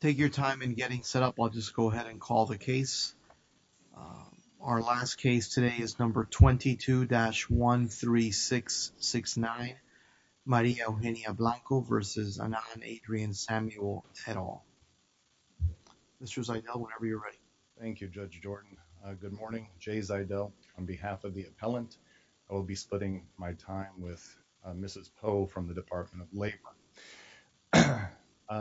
Take your time in getting set up. I'll just go ahead and call the case. Our last case today is number 22-13669 Maria Eugenia Blanco v. Anand Adrian Samuel Terol. Mr. Zaydel whenever on behalf of the appellant I will be splitting my time with Mrs. Poe from the Department of Labor.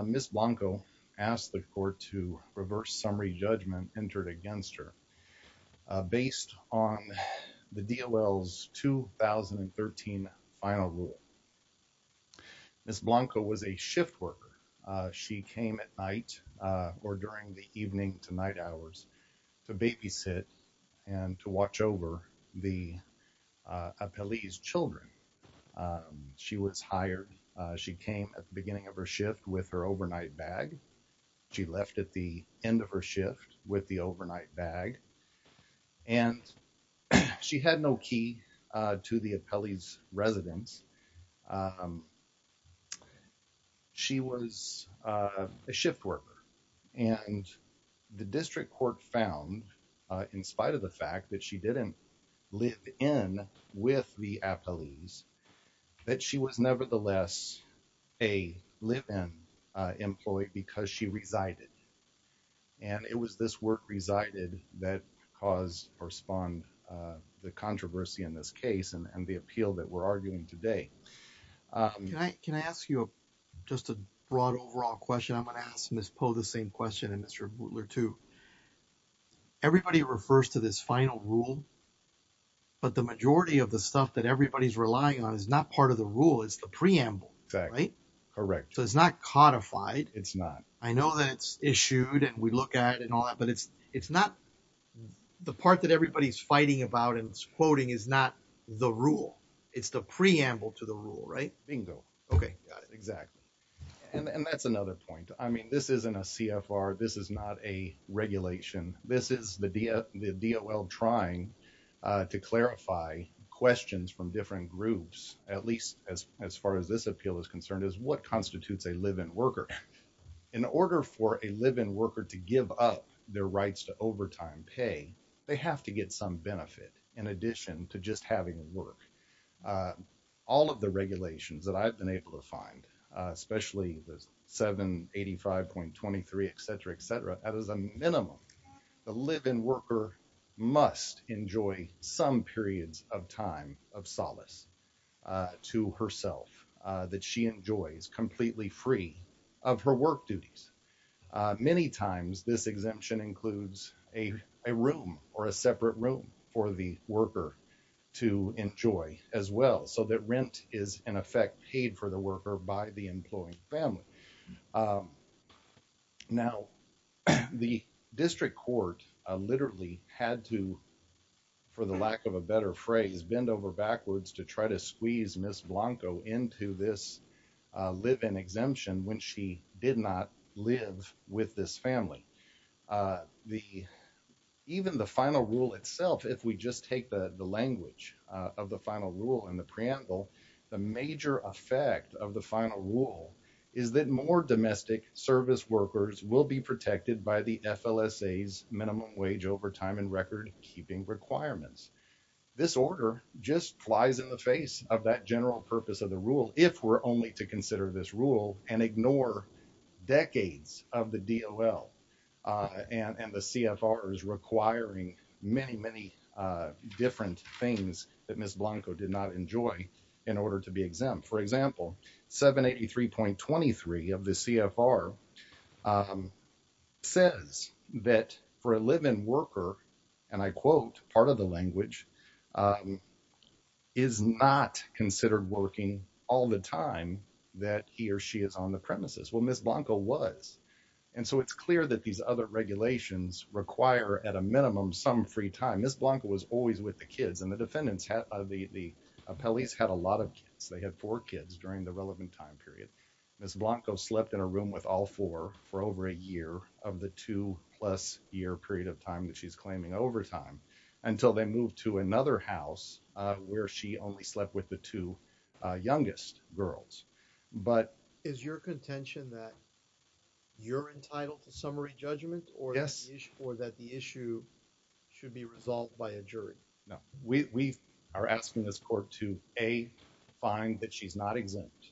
Ms. Blanco asked the court to reverse summary judgment entered against her based on the DLL's 2013 final rule. Ms. Blanco was a shift worker. She came at night or during the evening to night hours to babysit and to watch over the appellee's children. She was hired. She came at the beginning of her shift with her overnight bag. She left at the end of her shift with the overnight bag, and she had no key to the appellee's residence. She was a shift worker, and the district court found in spite of the fact that she didn't live in with the appellees that she was nevertheless a resided, and it was this work resided that caused or spawned the controversy in this case and the appeal that we're arguing today. Can I ask you just a broad overall question? I'm gonna ask Ms. Poe the same question and Mr. Butler too. Everybody refers to this final rule, but the majority of the stuff that everybody's relying on is not part of the rule. It's the preamble, right? Correct. So it's not codified. It's not. I know that it's issued and we look at it and all that, but it's not the part that everybody's fighting about and quoting is not the rule. It's the preamble to the rule, right? Bingo. Okay. Got it. Exactly. And that's another point. I mean, this isn't a CFR. This is not a regulation. This is the DOL trying to clarify questions from different groups, at least as far as this appeal is concerned is what constitutes a live-in worker. In order for a live-in worker to give up their rights to overtime pay, they have to get some benefit in addition to just having work. All of the regulations that I've been able to find, especially the 785.23, et cetera, et cetera, that is a minimum. The live-in worker must enjoy some periods of time of solace to herself that she enjoys completely free of her work duties. Many times this exemption includes a room or a separate room for the worker to enjoy as well so that rent is in effect paid for the worker by the employing family. Now the district court literally had to, for the lack of a better phrase, bend over backwards to try to squeeze Ms. Blanco into this live-in exemption when she did not live with this family. Even the final rule itself, if we just take the language of the final rule and the preamble, the major effect of the final rule is that more domestic service workers will be protected by the FLSA's minimum wage overtime recordkeeping requirements. This order just flies in the face of that general purpose of the rule if we're only to consider this rule and ignore decades of the DOL and the CFRs requiring many, many different things that Ms. Blanco did not enjoy in order to be exempt. For example, 783.23 of the CFR says that for a live-in worker, and I quote part of the language, is not considered working all the time that he or she is on the premises. Well, Ms. Blanco was, and so it's clear that these other regulations require at a minimum some free time. Ms. Blanco was always with the kids and the defendants, the appellees had a lot of kids. They had four kids during the relevant time period. Ms. Blanco slept in a room with all four for over a year of the two plus year period of time that she's claiming overtime until they moved to another house where she only slept with the two youngest girls. But is your contention that you're entitled to summary judgment or that the issue should be resolved by a jury? No, we are asking this court to A, find that she's not exempt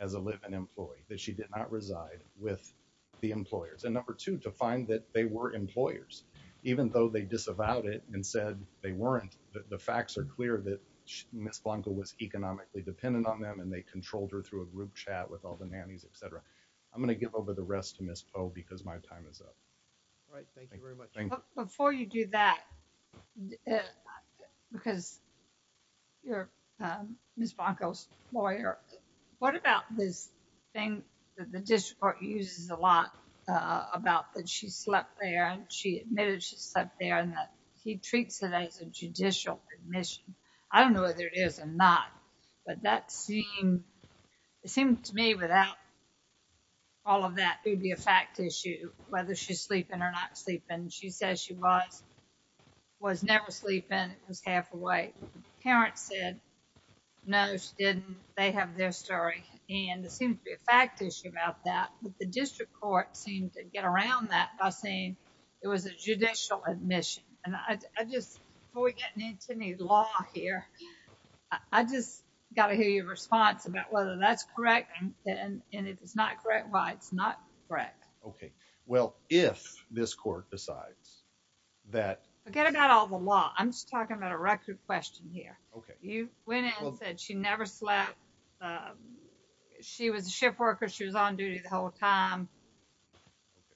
as a live-in employee, that she did not reside with the employers, and number two, to find that they were employers even though they disavowed it and said they weren't. The facts are clear that Ms. Blanco was economically dependent on them and they controlled her through a group chat with all the nannies, etc. I'm going to give over the rest to Ms. Poe because my time is up. All right, thank you very much. Before you do that, because you're Ms. Blanco's lawyer, what about this thing that the district court uses a lot about that she slept there and she admitted she slept there and that he treats it as a judicial admission. I don't know whether it is or not, but that seemed, it seemed to me without all of that, it would be a fact issue whether she's sleeping or not sleeping. She says she was, was never sleeping, it was half awake. Parents said no, she didn't, they have their story, and it seems to be a fact issue about that, but the district court seemed to get around that by saying it was a judicial admission. And I just, before we get into any law here, I just got to hear your response about whether that's correct, and if it's not correct, why it's not correct. Okay, well if this court decides that. Forget about all the law, I'm just talking about a record question here. Okay. You went in and said she never slept, she was a shift worker, she was on duty the whole time.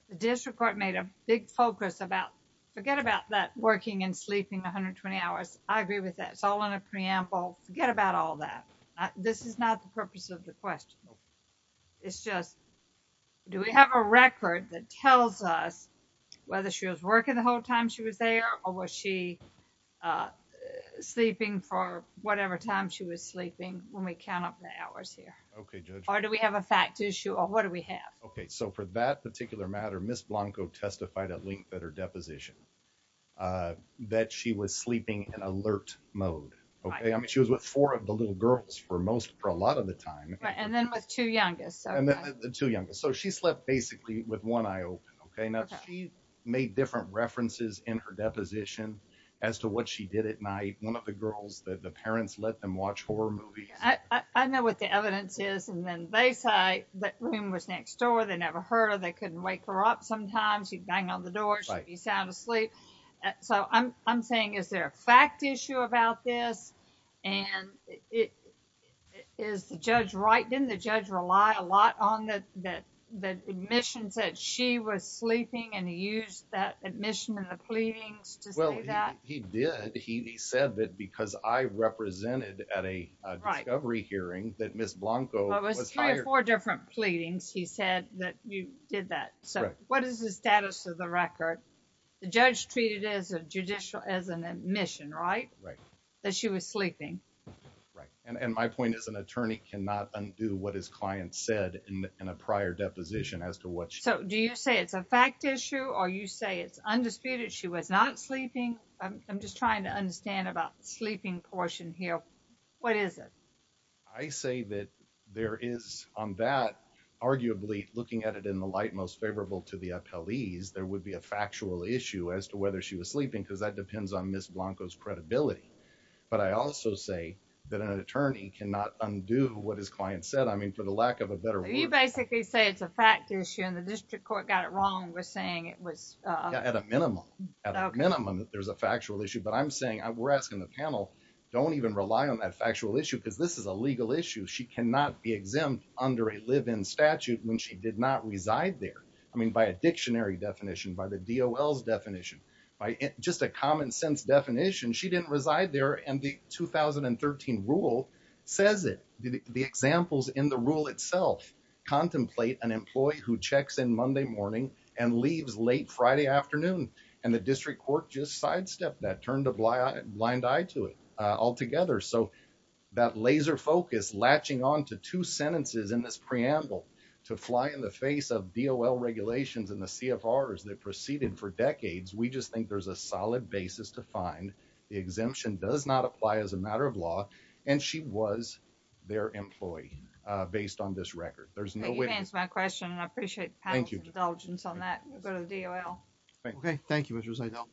The district court made a big focus about, forget about that working and sleeping 120 hours, I agree with that, it's all in a preamble, forget about all that. This is not the purpose of the question. It's just, do we have a record that tells us whether she was working the whole time she was there, or was she sleeping for whatever time she was sleeping when we count up the hours here? Okay Judge. Or do we have a fact issue, or what do we have? Okay, so for that particular matter, Ms. Blanco testified at her deposition that she was sleeping in alert mode. Okay, I mean she was with four of the little girls for most, for a lot of the time. Right, and then with two youngest. And then the two youngest, so she slept basically with one eye open. Okay, now she made different references in her deposition as to what she did at night, one of the girls that the parents let them watch horror movies. I know what the evidence is, and then they say that room was next door, they never heard her, they couldn't wake her up sometimes, she'd bang on the door, she'd be sound asleep. So I'm saying, is there a fact issue about this, and is the judge right? Didn't the judge rely a lot on the admissions that she was sleeping, and he used that admission and the pleadings to say that? Well, he did. He said that because I represented at a discovery hearing, that Ms. Blanco was hired. Four different pleadings, he said that you did that. So what is the status of the record? The judge treated it as a judicial, as an admission, right? Right. That she was sleeping. Right, and my point is an attorney cannot undo what his client said in a prior deposition as to what she did. So do you say it's a fact issue, or you say it's undisputed she was not sleeping? I'm just trying to understand about the sleeping portion here. What is it? I say that there is, on that, arguably, looking at it in the light most favorable to the appellees, there would be a factual issue as to whether she was sleeping, because that depends on Ms. Blanco's credibility. But I also say that an attorney cannot undo what his client said, I mean, for the lack of a better word. You basically say it's a fact issue, and the district court got it wrong with saying it was... At a minimum. At a minimum, there's a factual issue. But I'm saying, we're asking the panel, don't even rely on that factual issue, because this is a legal issue. She cannot be exempt under a live-in statute when she did not reside there. I mean, by a dictionary definition, by the DOL's definition, by just a common sense definition, she didn't reside there. And the 2013 rule says it, the examples in the rule itself, contemplate an employee who checks in Monday morning and leaves late Friday afternoon. And the district court just sidestepped that, turned a blind eye to it altogether. So that laser focus latching on to two sentences in this preamble to fly in the face of DOL regulations and the CFRs that proceeded for decades, we just think there's a solid basis to find the exemption does not apply as a matter of law, and she was their employee based on this record. There's no way... I have no indulgence on that. We'll go to the DOL. Okay. Thank you, Mrs. Eidel.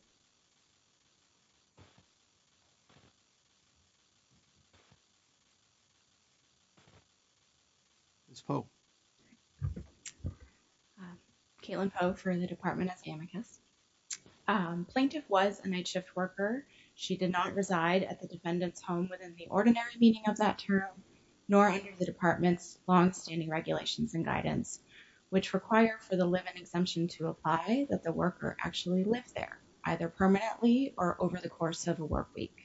Ms. Poe. Caitlin Poe for the Department of Amicus. Plaintiff was a night shift worker. She did not reside at the defendant's home within the ordinary meaning of that term, nor under the limit exemption to apply that the worker actually lived there either permanently or over the course of a work week.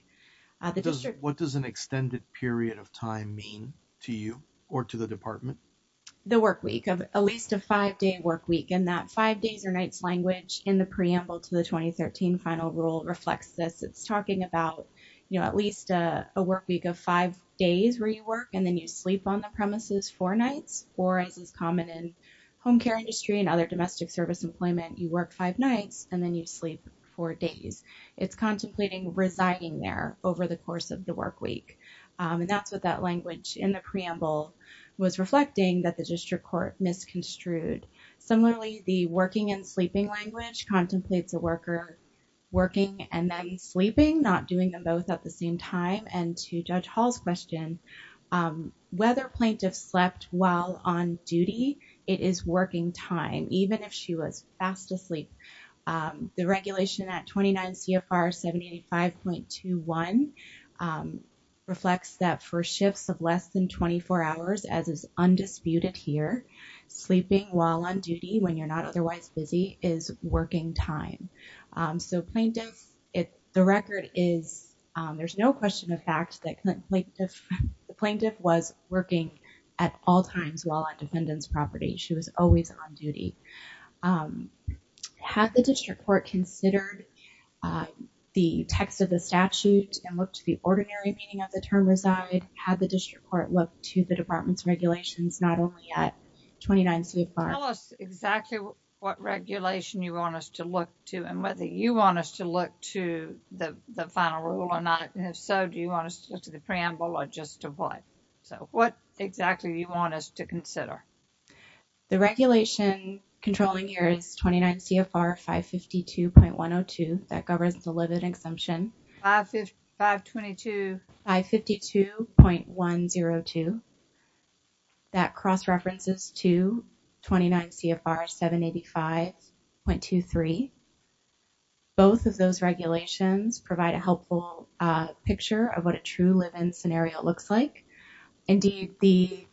The district... What does an extended period of time mean to you or to the department? The work week of at least a five-day work week and that five days or nights language in the preamble to the 2013 final rule reflects this. It's talking about at least a work week of five days where you work and then you sleep on the premises four nights, or as is common in industry and other domestic service employment, you work five nights and then you sleep four days. It's contemplating residing there over the course of the work week. And that's what that language in the preamble was reflecting that the district court misconstrued. Similarly, the working and sleeping language contemplates a worker working and then sleeping, not doing them both at the even if she was fast asleep. The regulation at 29 CFR 785.21 reflects that for shifts of less than 24 hours, as is undisputed here, sleeping while on duty when you're not otherwise busy is working time. So plaintiff... The record is... There's no question of fact that the plaintiff was working at all times while on defendant's property. She was always on duty. Had the district court considered the text of the statute and looked to the ordinary meaning of the term reside? Had the district court looked to the department's regulations not only at 29 CFR... Tell us exactly what regulation you want us to look to and whether you want us to look to the final rule or not. And if so, do you want us to look to the preamble or just to what? So what exactly do you want us to consider? The regulation controlling here is 29 CFR 552.102 that governs the living exemption. 552... 522... 552.102 that cross-references to 29 CFR 785.23. Both of those regulations provide a helpful picture of what a true living scenario looks like. Indeed, the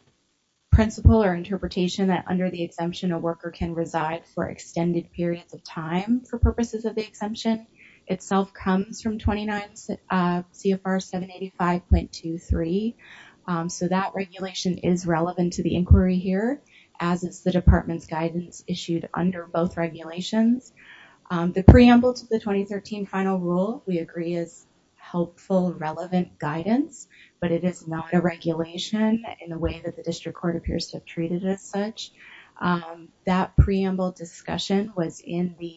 principle or interpretation that under the exemption, a worker can reside for extended periods of time for purposes of the exemption itself comes from 29 CFR 785.23. So that regulation is relevant to the inquiry here, as is the department's guidance issued under both regulations. The preamble to the 2013 final rule we agree is helpful, relevant guidance, but it is not a regulation in the way that the district court appears to have treated it as such. That preamble discussion was in the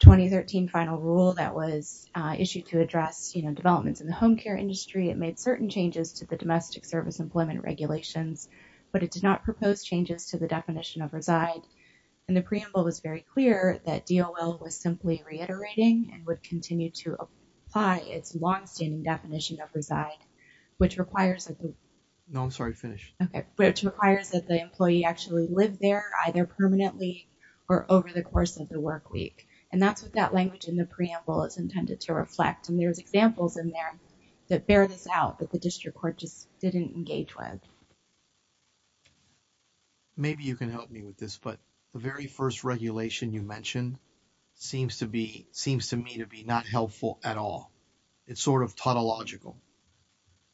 2013 final rule that was issued to address, you know, developments in the home care industry. It made certain changes to the domestic service employment regulations, but it did not propose changes to the definition of reside. And the preamble was very clear that DOL was simply reiterating and would continue to apply its longstanding definition of which requires that the employee actually live there either permanently or over the course of the work week. And that's what that language in the preamble is intended to reflect. And there's examples in there that bear this out, but the district court just didn't engage with. Maybe you can help me with this, but the very first regulation you mentioned seems to me to be not helpful at all. It's sort of tautological,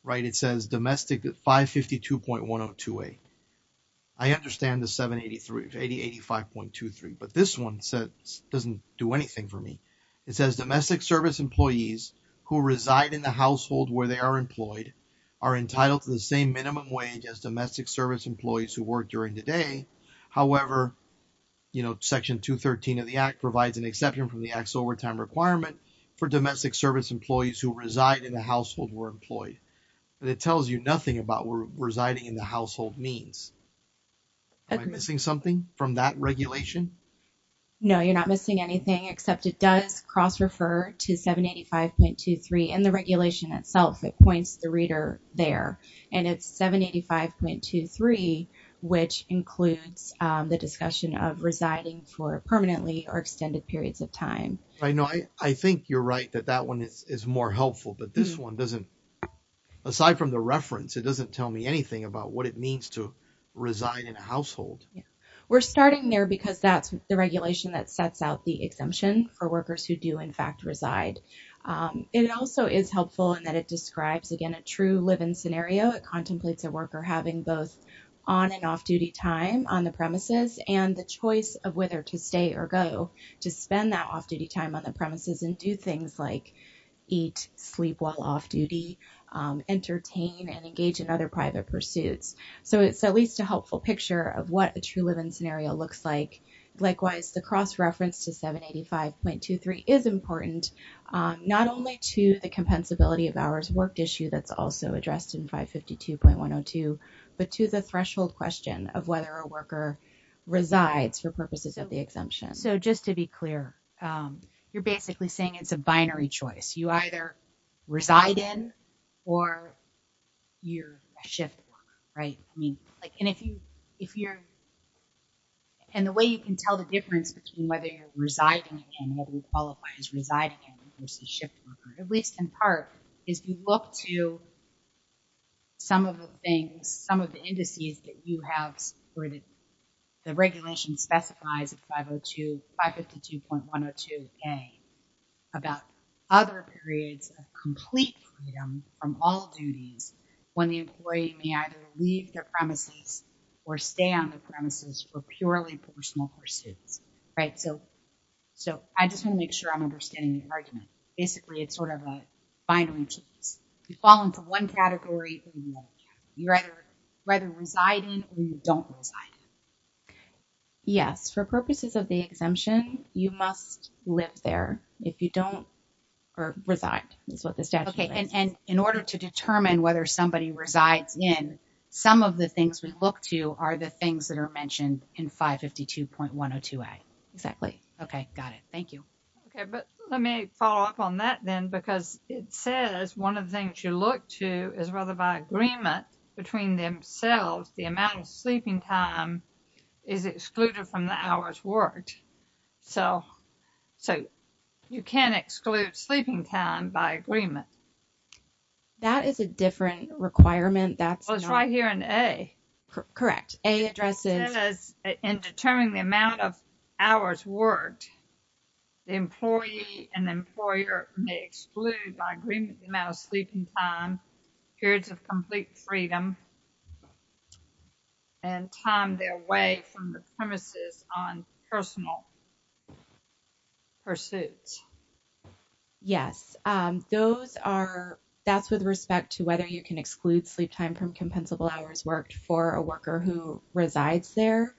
right? It says domestic 552.1028. I understand the 785.23, but this one doesn't do anything for me. It says domestic service employees who reside in the household where they are employed are entitled to the same minimum wage as domestic service employees who work during the day. However, you know, section 213 of the act provides an exception from the act's overtime requirement for domestic service employees who reside in the household where employed. And it tells you nothing about where residing in the household means. Am I missing something from that regulation? No, you're not missing anything except it does cross-refer to 785.23 in the regulation itself. It points the reader there and it's 785.23, which includes the discussion of residing for permanently or extended periods of time. I think you're right that that one is more helpful, but this one doesn't, aside from the reference, it doesn't tell me anything about what it means to reside in a household. We're starting there because that's the regulation that sets out the exemption for workers who do, in fact, reside. It also is helpful in that it describes, again, a true live-in scenario. It contemplates a worker having both on and off-duty time on the premises and the choice of whether to stay or go to spend that off-duty time on the premises and do things like eat, sleep while off-duty, entertain, and engage in other private pursuits. So it's at least a helpful picture of what a true live-in scenario looks like. Likewise, the cross-reference to 785.23 is important, not only to the compensability of hours worked issue that's also addressed in 552.102, but to the threshold question of whether a worker resides for purposes of the exemption. So just to be clear, you're basically saying it's a binary choice. You reside in a household. The difference between whether you're residing in and whether you qualify as residing in versus shift worker, at least in part, is you look to some of the things, some of the indices that you have where the regulation specifies at 502, 552.102A about other periods of complete freedom from all duties when the employee may either leave their right. So I just want to make sure I'm understanding the argument. Basically, it's sort of a binary choice. You fall into one category or another. You either reside in or you don't reside in. Yes. For purposes of the exemption, you must live there. If you don't reside, is what the statute says. Okay. And in order to determine whether somebody resides in, some of the things we look to are the things that are mentioned in 552.102A. Exactly. Okay. Got it. Thank you. Okay. But let me follow up on that then, because it says one of the things you look to is whether by agreement between themselves, the amount of sleeping time is excluded from the hours worked. So you can't exclude sleeping time by agreement. That is a different requirement. Well, it's right here in A. Correct. In determining the amount of hours worked, the employee and employer may exclude by agreement the amount of sleeping time, periods of complete freedom, and time their way from the premises on personal pursuits. Yes. That's with respect to whether you can exclude sleep time from compensable hours worked for a worker who resides there.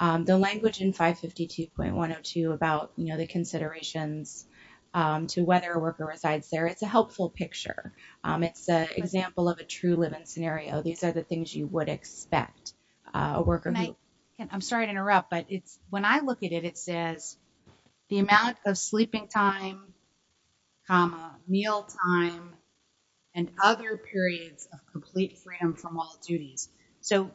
The language in 552.102 about the considerations to whether a worker resides there, it's a helpful picture. It's an example of a true living scenario. These are the things you would expect. I'm sorry to interrupt, but when I look at it, it says the amount of sleeping time, meal time, and other periods of complete freedom from all duties. So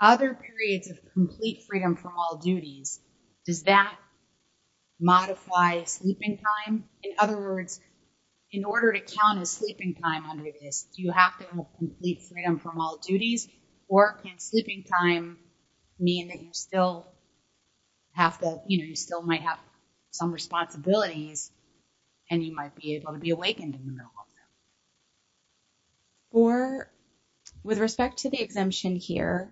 other periods of complete freedom from all duties, does that modify sleeping time? In other words, in order to count as sleeping time under this, do you have to have complete freedom from all duties? Or can sleeping time mean that you still have to, you know, you still might have some responsibilities and you might be able to be awakened in the middle of them? With respect to the exemption here,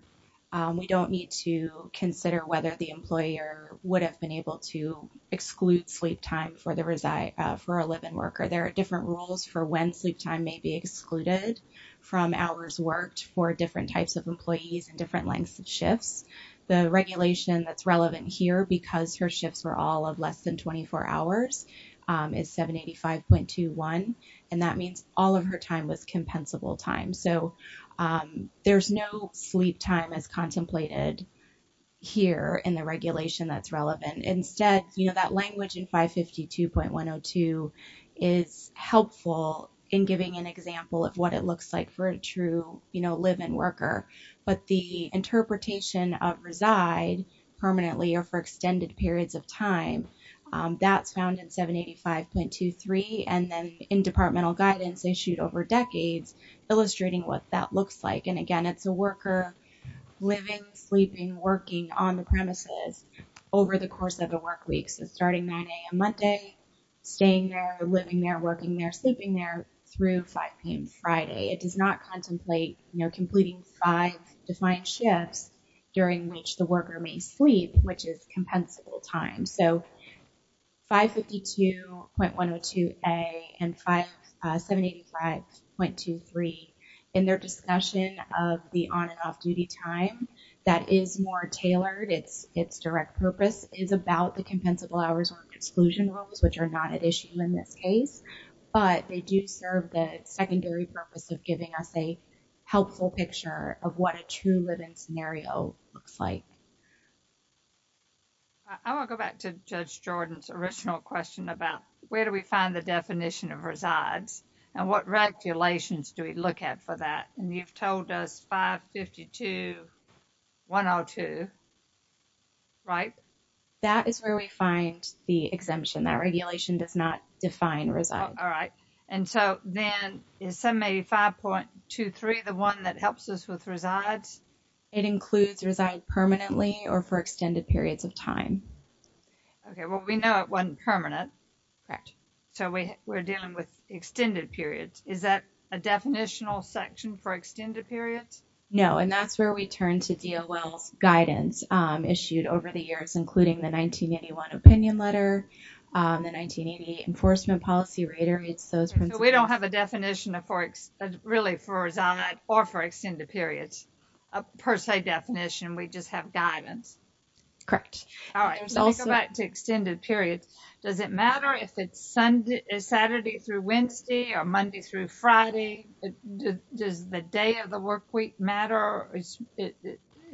we don't need to consider whether the employer would have been able to exclude sleep time for a live-in worker. There are different rules for when sleep time may be excluded from hours worked for different types of employees and different lengths of shifts. The regulation that's relevant here, because her shifts were all of less than 24 hours, is 785.21. And that means all of her time was compensable time. So there's no sleep time as contemplated here in the regulation that's relevant. Instead, you know, that language in 552.102 is helpful in giving an example of what it looks like for a true, you know, live-in worker. But the interpretation of reside permanently or for extended periods of time, that's found in 785.23. And then in departmental guidance issued over decades, illustrating what that looks like. And again, it's a worker living, sleeping, working on the premises over the course of the work week. So starting 9 a.m. Monday, staying there, living there, working there, sleeping there through 5 p.m. Friday. It does not contemplate, you know, completing five defined shifts during which the worker may sleep, which is compensable time. So 552.102A and 785.23, in their discussion of the on and off-duty time, that is more tailored. Its direct purpose is about the secondary purpose of giving us a helpful picture of what a true live-in scenario looks like. I want to go back to Judge Jordan's original question about where do we find the definition of resides and what regulations do we look at for that? And you've told us 552.102, right? That is where we find the exemption. That regulation does not define resides. All right. And so then is 785.23 the one that helps us with resides? It includes reside permanently or for extended periods of time. Okay. Well, we know it wasn't permanent. Correct. So we're dealing with extended periods. Is that a definitional section for extended periods? No. And that's where we turn to DOL's guidance issued over the years, including the 1981 opinion letter, the 1988 enforcement policy reiterates those principles. So we don't have a definition really for reside or for extended periods, a per se definition. We just have guidance. Correct. All right. Let's go back to extended periods. Does it matter if it's matter? It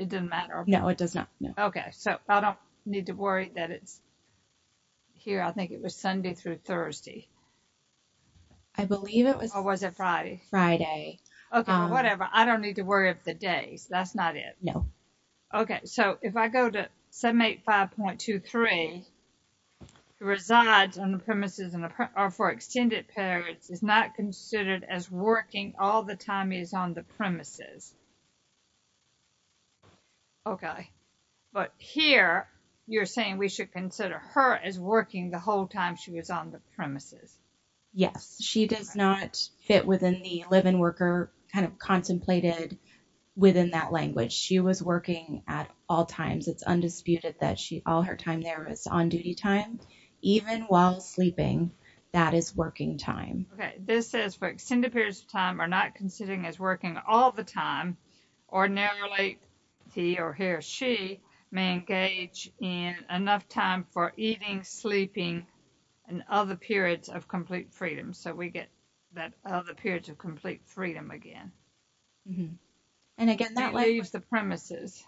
doesn't matter. No, it does not. Okay. So I don't need to worry that it's here. I think it was Sunday through Thursday. I believe it was. Or was it Friday? Friday. Okay. Whatever. I don't need to worry of the days. That's not it. No. Okay. So if I go to 785.23, resides on the premises and are for extended periods is not considered as working all the time is on the premises. Okay. But here you're saying we should consider her as working the whole time she was on the premises. Yes. She does not fit within the live-in worker kind of contemplated within that language. She was working at all times. It's undisputed that she, all her time there is on duty time, even while sleeping, that is working time. Okay. This says for extended periods of time are not considering as working all the time. Ordinarily he or he or she may engage in enough time for eating, sleeping, and other periods of complete freedom. So we get that other periods of complete freedom again. And again, that leaves the premises.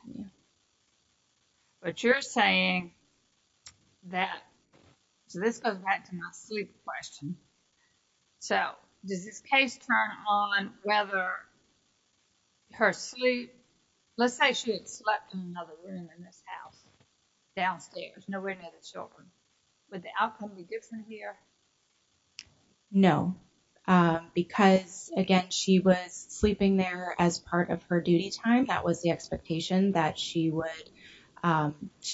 But you're saying that, so this goes back to my sleep question. So does this case turn on whether her sleep, let's say she had slept in another room in this house, downstairs, nowhere near the children. Would the outcome be different here? No. Because again, she was sleeping there as part of her duty time. That was the expectation that she would, that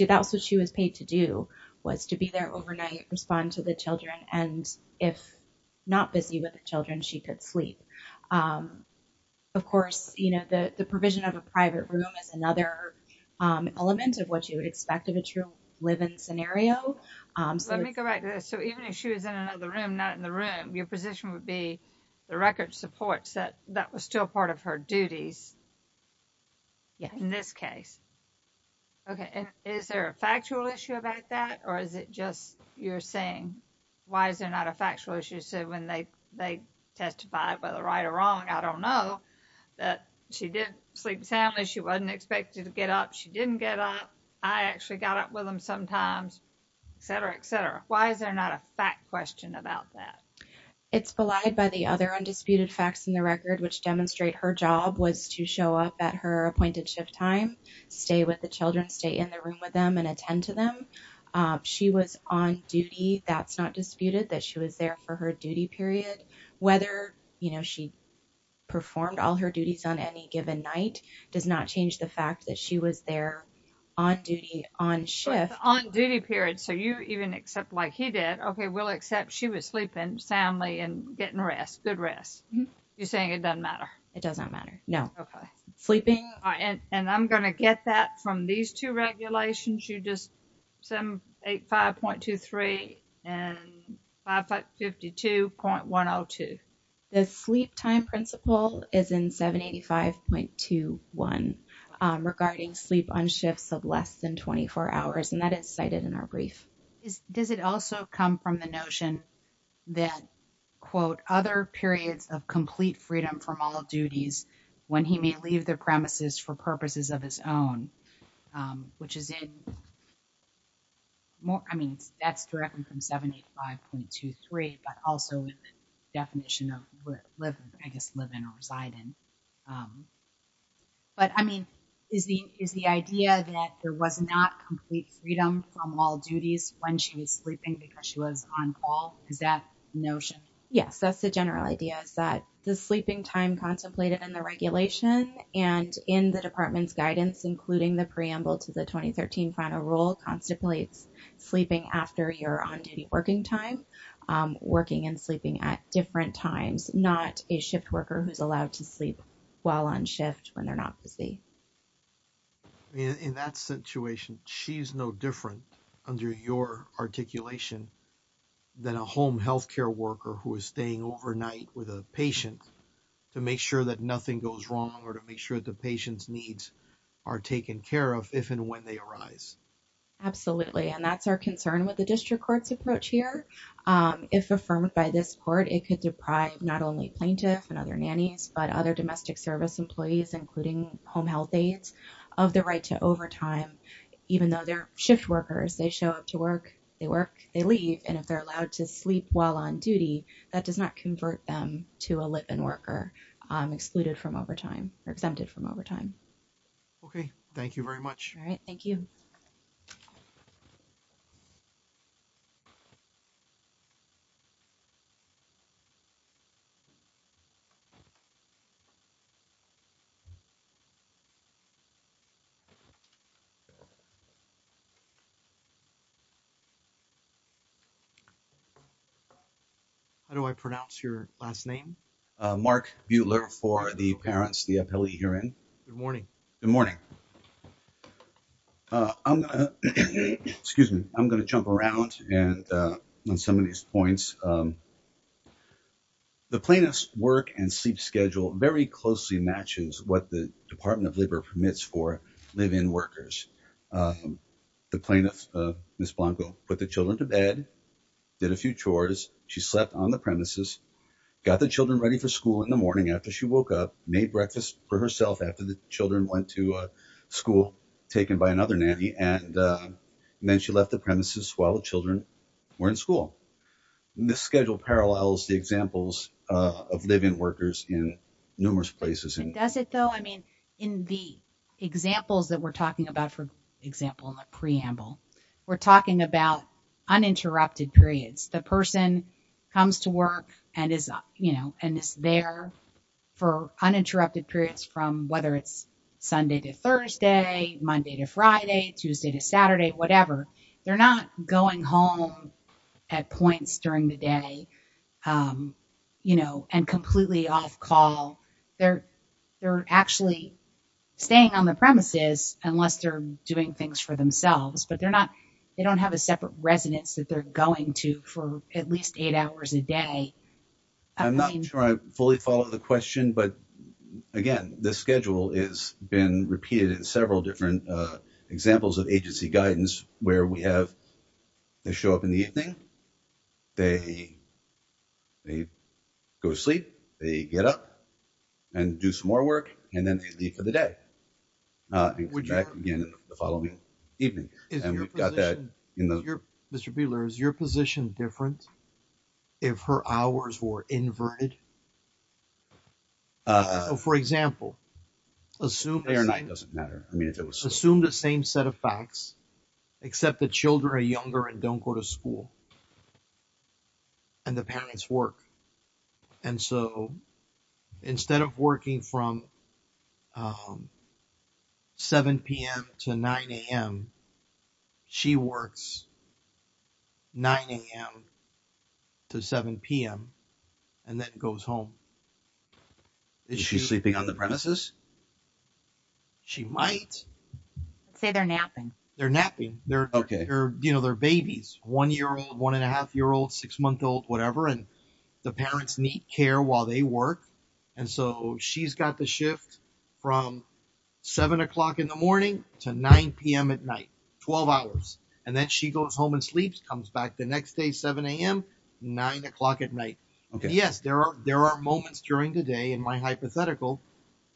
was what she was paid to do, was to be there overnight, respond to the children. And if not busy with the children, she could sleep. Of course, the provision of a private room is another element of what you would expect of a true live-in scenario. Let me correct this. So even if she was in another room, not in the room, your position would be the record supports that that was still part of her duties in this case. Okay. And is there a factual issue about that? Or is it just you're saying, why is there not a factual issue? So when they testify whether right or wrong, I don't know that she did sleep soundly. She wasn't expected to get up. She didn't get up. I actually got up with them sometimes, et cetera, et cetera. Why is there not a fact question about that? It's belied by the other undisputed facts in the record, which demonstrate her job was to show up at her appointed shift time, stay with the children, stay in the room with them and attend to them. She was on duty. That's not disputed that she was there for her duty period. Whether, you know, she performed all her duties on any given night does not change the fact that she was there on duty, on shift. On duty period. So you even except like he did, okay, we'll accept she was sleeping soundly and getting rest, good rest. You're saying it doesn't matter? It doesn't matter. No. Okay. Sleeping. And I'm going to get that from these two regulations. You just 785.23 and 552.102. The sleep time principle is in 785.21 regarding sleep on shifts of less than 24 hours. And that is cited in our brief. Does it also come from the notion that, quote, other periods of complete freedom from all duties when he may leave the premises for purposes of his own, which is in more, I mean, that's from 785.23, but also in the definition of, I guess, live in or reside in. But I mean, is the idea that there was not complete freedom from all duties when she was sleeping because she was on call? Is that the notion? Yes. That's the general idea is that the sleeping time contemplated in the regulation and in the department's guidance, including the on-duty working time, working and sleeping at different times, not a shift worker who's allowed to sleep while on shift when they're not busy. I mean, in that situation, she's no different under your articulation than a home healthcare worker who is staying overnight with a patient to make sure that nothing goes wrong or to make sure that the patient's needs are taken care of if and when they arise. Absolutely. And that's our concern with the district court's approach here. If affirmed by this court, it could deprive not only plaintiff and other nannies, but other domestic service employees, including home health aides of the right to overtime, even though they're shift workers, they show up to work, they work, they leave. And if they're allowed to sleep while on duty, that does not convert them to a litman worker excluded from overtime or exempted from overtime. Okay. Thank you very much. All right. Thank you. How do I pronounce your last name? Mark Buehler for the parents, the appellee here in Good morning. Good morning. Uh, excuse me. I'm going to jump around and, uh, on some of these points, um, the plaintiff's work and sleep schedule very closely matches what the department of labor permits for live in workers. Um, the plaintiff, uh, Ms. Blanco put the children to bed, did a few chores. She slept on the premises, got the children ready for school in the morning after she woke up, made breakfast for herself after the children went to a school taken by another nanny. And, uh, and then she left the premises while the children were in school. The schedule parallels the examples, uh, of live in workers in numerous places. Does it though? I mean, in the examples that we're talking about, for example, in the preamble, we're talking about uninterrupted periods. The person comes to work and is, you know, and is there for uninterrupted periods from whether it's Sunday to Thursday, Monday to Friday, Tuesday to Saturday, whatever. They're not going home at points during the day, um, you know, and completely off call. They're, they're actually staying on the premises unless they're doing things for themselves, but they're not, they don't have a separate residence that they're going to for at least eight hours a day. I'm not sure I fully follow the question, but again, the schedule is been repeated in several different, uh, examples of agency guidance where we have, they show up in the evening, they, they go to sleep, they get up and do some more work and then they leave for the day. Uh, would you back again the following evening? And we've got that, you know, Mr. Buehler, is your position different if her hours were inverted? Uh, for example, assume day or night doesn't matter. I mean, it was assumed the same set of facts, except the children are younger and don't go to school and the parents work. And so instead of working from, um, 7 p.m. to 9 a.m., she works 9 a.m. to 7 p.m. and then goes home. Is she sleeping on the premises? She might. Say they're napping. They're napping. They're, you know, they're babies, one year old, one and a half year old, six month old, whatever. And parents need care while they work. And so she's got the shift from 7 o'clock in the morning to 9 p.m. at night, 12 hours. And then she goes home and sleeps, comes back the next day, 7 a.m., 9 o'clock at night. Yes, there are, there are moments during the day in my hypothetical,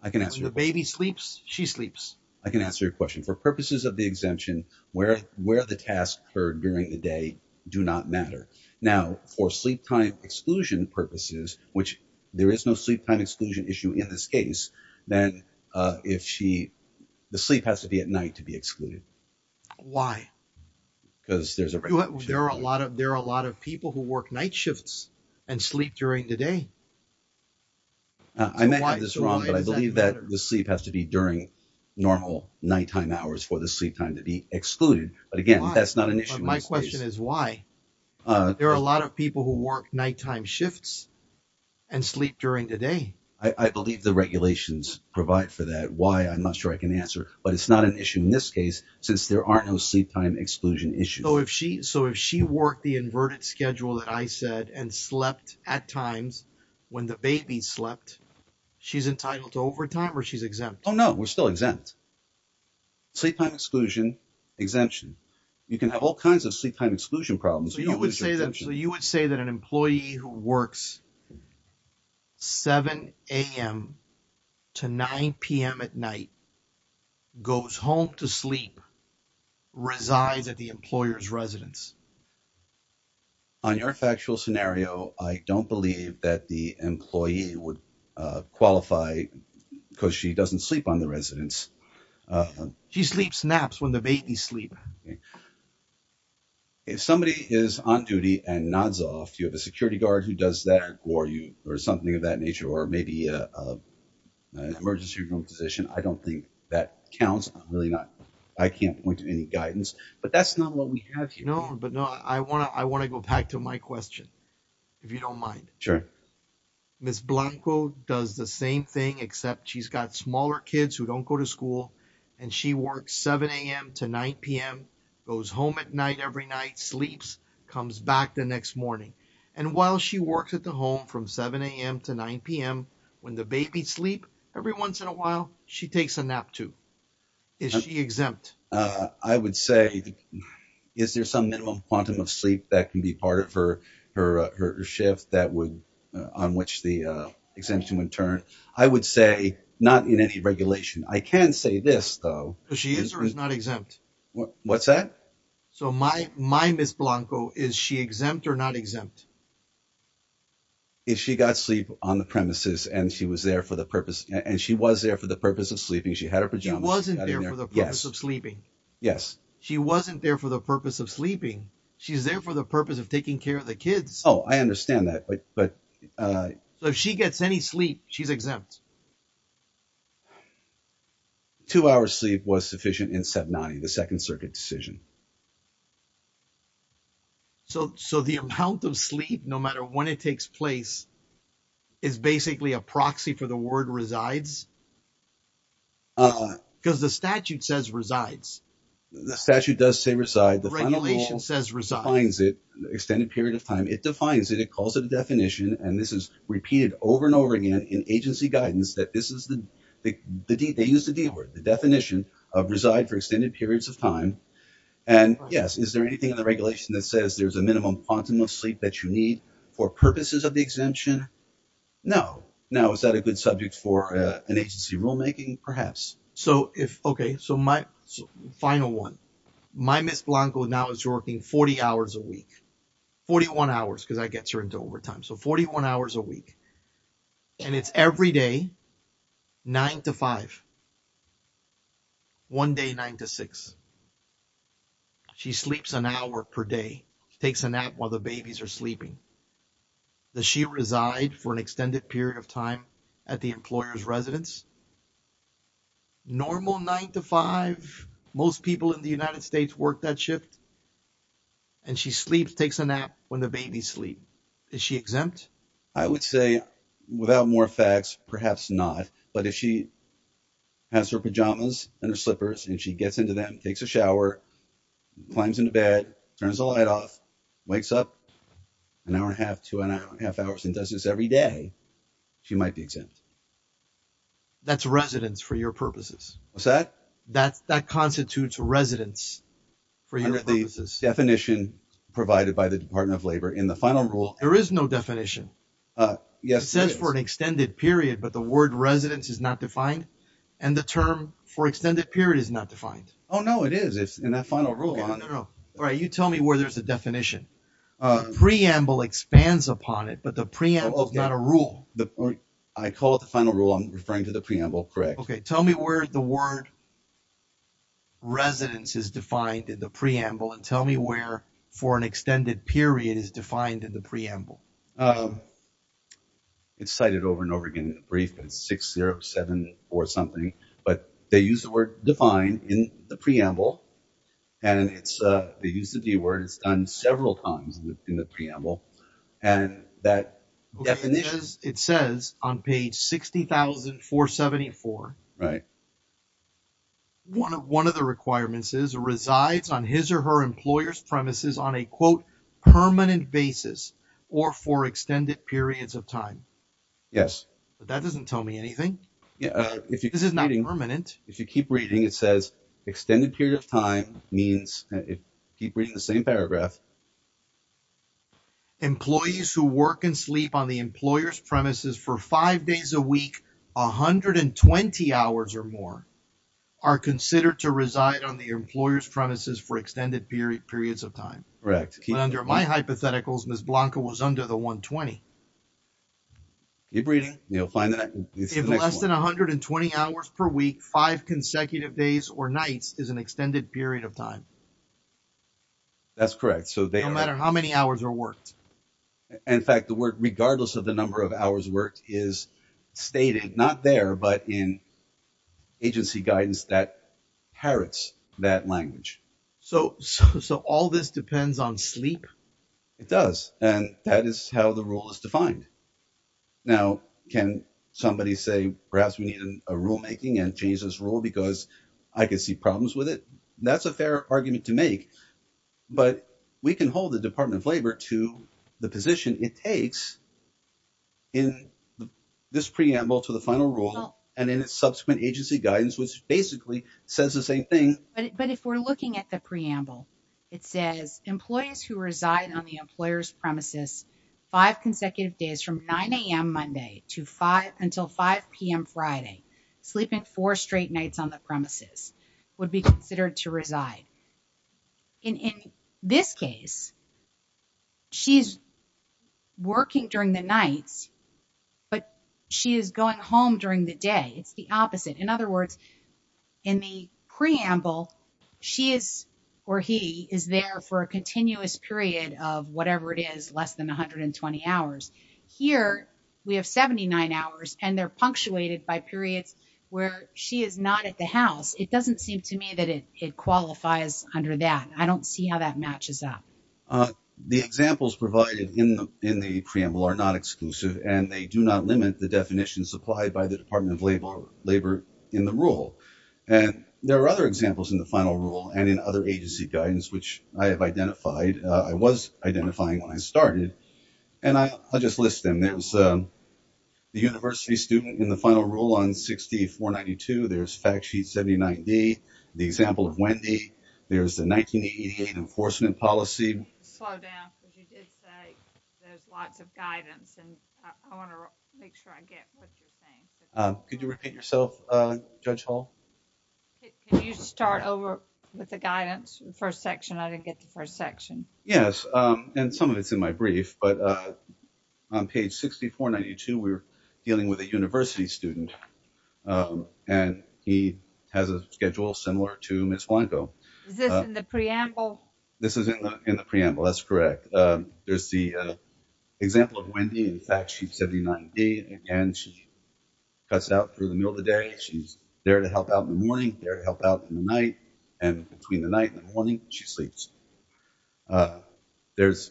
when the baby sleeps, she sleeps. I can answer your question. For purposes of the exemption, where, where the tasks occurred during the day do not matter. Now for sleep time exclusion purposes, which there is no sleep time exclusion issue in this case, then, uh, if she, the sleep has to be at night to be excluded. Why? Because there's a, there are a lot of, there are a lot of people who work night shifts and sleep during the day. I may have this wrong, but I believe that the sleep has to be during normal nighttime hours for the sleep time to be excluded. But again, that's not an issue. My question is why? Uh, there are a lot of people who work nighttime shifts and sleep during the day. I believe the regulations provide for that. Why? I'm not sure I can answer, but it's not an issue in this case since there are no sleep time exclusion issues. So if she, so if she worked the inverted schedule that I said and slept at times when the she's exempt. Oh no, we're still exempt. Sleep time exclusion exemption. You can have all kinds of sleep time exclusion problems. So you would say that an employee who works 7am to 9pm at night goes home to sleep, resides at the employer's residence. On your factual scenario, I don't believe that the employee would qualify because she doesn't sleep on the residence. She sleeps naps when the babies sleep. If somebody is on duty and nods off, you have a security guard who does that or you or something of that nature, or maybe a emergency room position. I don't think that counts. I'm really not, I can't point to any guidance, but that's not what we have, you know, but no, I want to, I want to go back to my question, if you don't mind. Sure. Ms. Blanco does the same thing, except she's got smaller kids who don't go to school and she works 7am to 9pm, goes home at night, every night, sleeps, comes back the next morning. And while she works at the home from 7am to 9pm, when the babies sleep every once in a while, she takes a nap too. Is she exempt? I would say, is there some minimum quantum of sleep that can be part of her, her shift that would, on which the exemption would turn? I would say not in any regulation. I can say this though. She is or is not exempt? What's that? So my, my Ms. Blanco, is she exempt or not exempt? If she got sleep on the premises and she was there for the purpose, and she was there for the purpose of sleeping. She had her pajamas. She wasn't there for the purpose of sleeping. Yes. She wasn't there for the purpose of sleeping. She's there for the purpose of taking care of the kids. Oh, I understand that. But, but, uh, if she gets any sleep, she's exempt. Two hours sleep was sufficient in 790, the second circuit decision. So, so the amount of sleep, no matter when it takes place is basically a proxy for the word resides. Cause the statute says resides. The statute does say reside. The regulation says resides it extended period of time. It defines it. It calls it a definition. And this is repeated over and over again in agency guidance that this is the, the, the D they use the D word, the definition of reside for extended periods of time. And yes, is there anything in the regulation that says there's a minimum quantum of sleep that you need for purposes of the exemption? No, no. Is that a good subject for an agency rulemaking perhaps? So if, okay. So my final one, my miss Blanco now is working 40 hours a week, 41 hours. Cause I gets her into overtime. So 41 hours a week and it's every day, nine to five, one day, nine to six, she sleeps an hour per day, takes a nap while the babies are sleeping. Does she reside for an extended period of time at the employer's residence? Normal nine to five. Most people in the United States work that shift and she sleeps, takes a nap when the babies sleep. Is she exempt? I would say without more facts, perhaps not, but if she has her pajamas and her slippers and she sleeps an hour and a half, two and a half hours and does this every day, she might be exempt. That's residence for your purposes. What's that? That's that constitutes residence for your purposes. Definition provided by the department of labor in the final rule. There is no definition. Yes. It says for an extended period, but the word residence is not defined and the term for extended period is not defined. Oh no, it is. It's in that final rule. All right. You tell me where there's a definition. Preamble expands upon it, but the preamble is not a rule. I call it the final rule. I'm referring to the preamble. Correct. Okay. Tell me where the word residence is defined in the preamble and tell me where for an extended period is defined in the preamble. It's cited over and over again in the brief and it's 607 or something, but they use the word defined in the preamble and it's a, they use the D word it's done several times in the preamble and that definition. It says on page 60,474. Right. One of the requirements is resides on his or her employer's premises on a quote permanent basis or for extended periods of time. Yes. But that doesn't tell me anything. Yeah. If you, this is not permanent. If you keep reading, it says extended period of time means keep reading the same paragraph. Employees who work and sleep on the employer's premises for five days a week, 120 hours or more are considered to reside on the employer's premises for extended period, periods of time. Correct. Under my hypotheticals, Ms. Blanca was under the 120. You're breathing. You'll find that it's less than 120 hours per week. Five consecutive days or nights is an extended period of time. That's correct. So they don't matter how many hours are worked. In fact, the word, regardless of the number of hours worked is stated not there, but in agency guidance that parrots that language. So, so, so all this depends on sleep. It does. And that is how the rule is defined. Now, can somebody say, perhaps we need a rulemaking and change this rule because I could see problems with it? That's a fair argument to make, but we can hold the Department of Labor to the position it takes in this preamble to the final rule and in its subsequent agency guidance, which basically says the same thing. But if we're looking at the preamble, it says employees who reside on the employer's premises, five consecutive days from 9 a.m. Monday to five until 5 p.m. Friday, sleeping four straight nights on the premises would be considered to reside. In this case, she's working during the nights, but she is going home during the day. It's the opposite. In other words, in the preamble, she is, or he is there for a continuous period of whatever it is, less than 120 hours. Here, we have 79 hours and they're punctuated by periods where she is not at the house. It doesn't seem to me that it qualifies under that. I don't see how that matches up. The examples provided in the preamble are not exclusive and they do not limit the definitions applied by the Department of Labor in the rule. There are other examples in the final rule and in other agency guidance, which I have identified. I was identifying when I started and I'll just list them. There's the university student in the final rule on 6492. There's fact sheet 79D, the example of Wendy. There's the 1988 enforcement policy. Slow down because you did say there's lots of guidance and I want to make sure I get what you're saying. Could you repeat yourself, Judge Hall? Can you start over with the guidance, the first section? I didn't get the first section. Yes, and some of it's in my brief, but on page 6492, we're dealing with a university student and he has a schedule similar to Ms. Blanco. Is this in the preamble? This is in the preamble. That's correct. There's the example of Wendy. In fact, she's 79D and she cuts out through the middle of the day. She's there to help out in the morning, there to help out in the night, and between the night and the morning, she sleeps. There's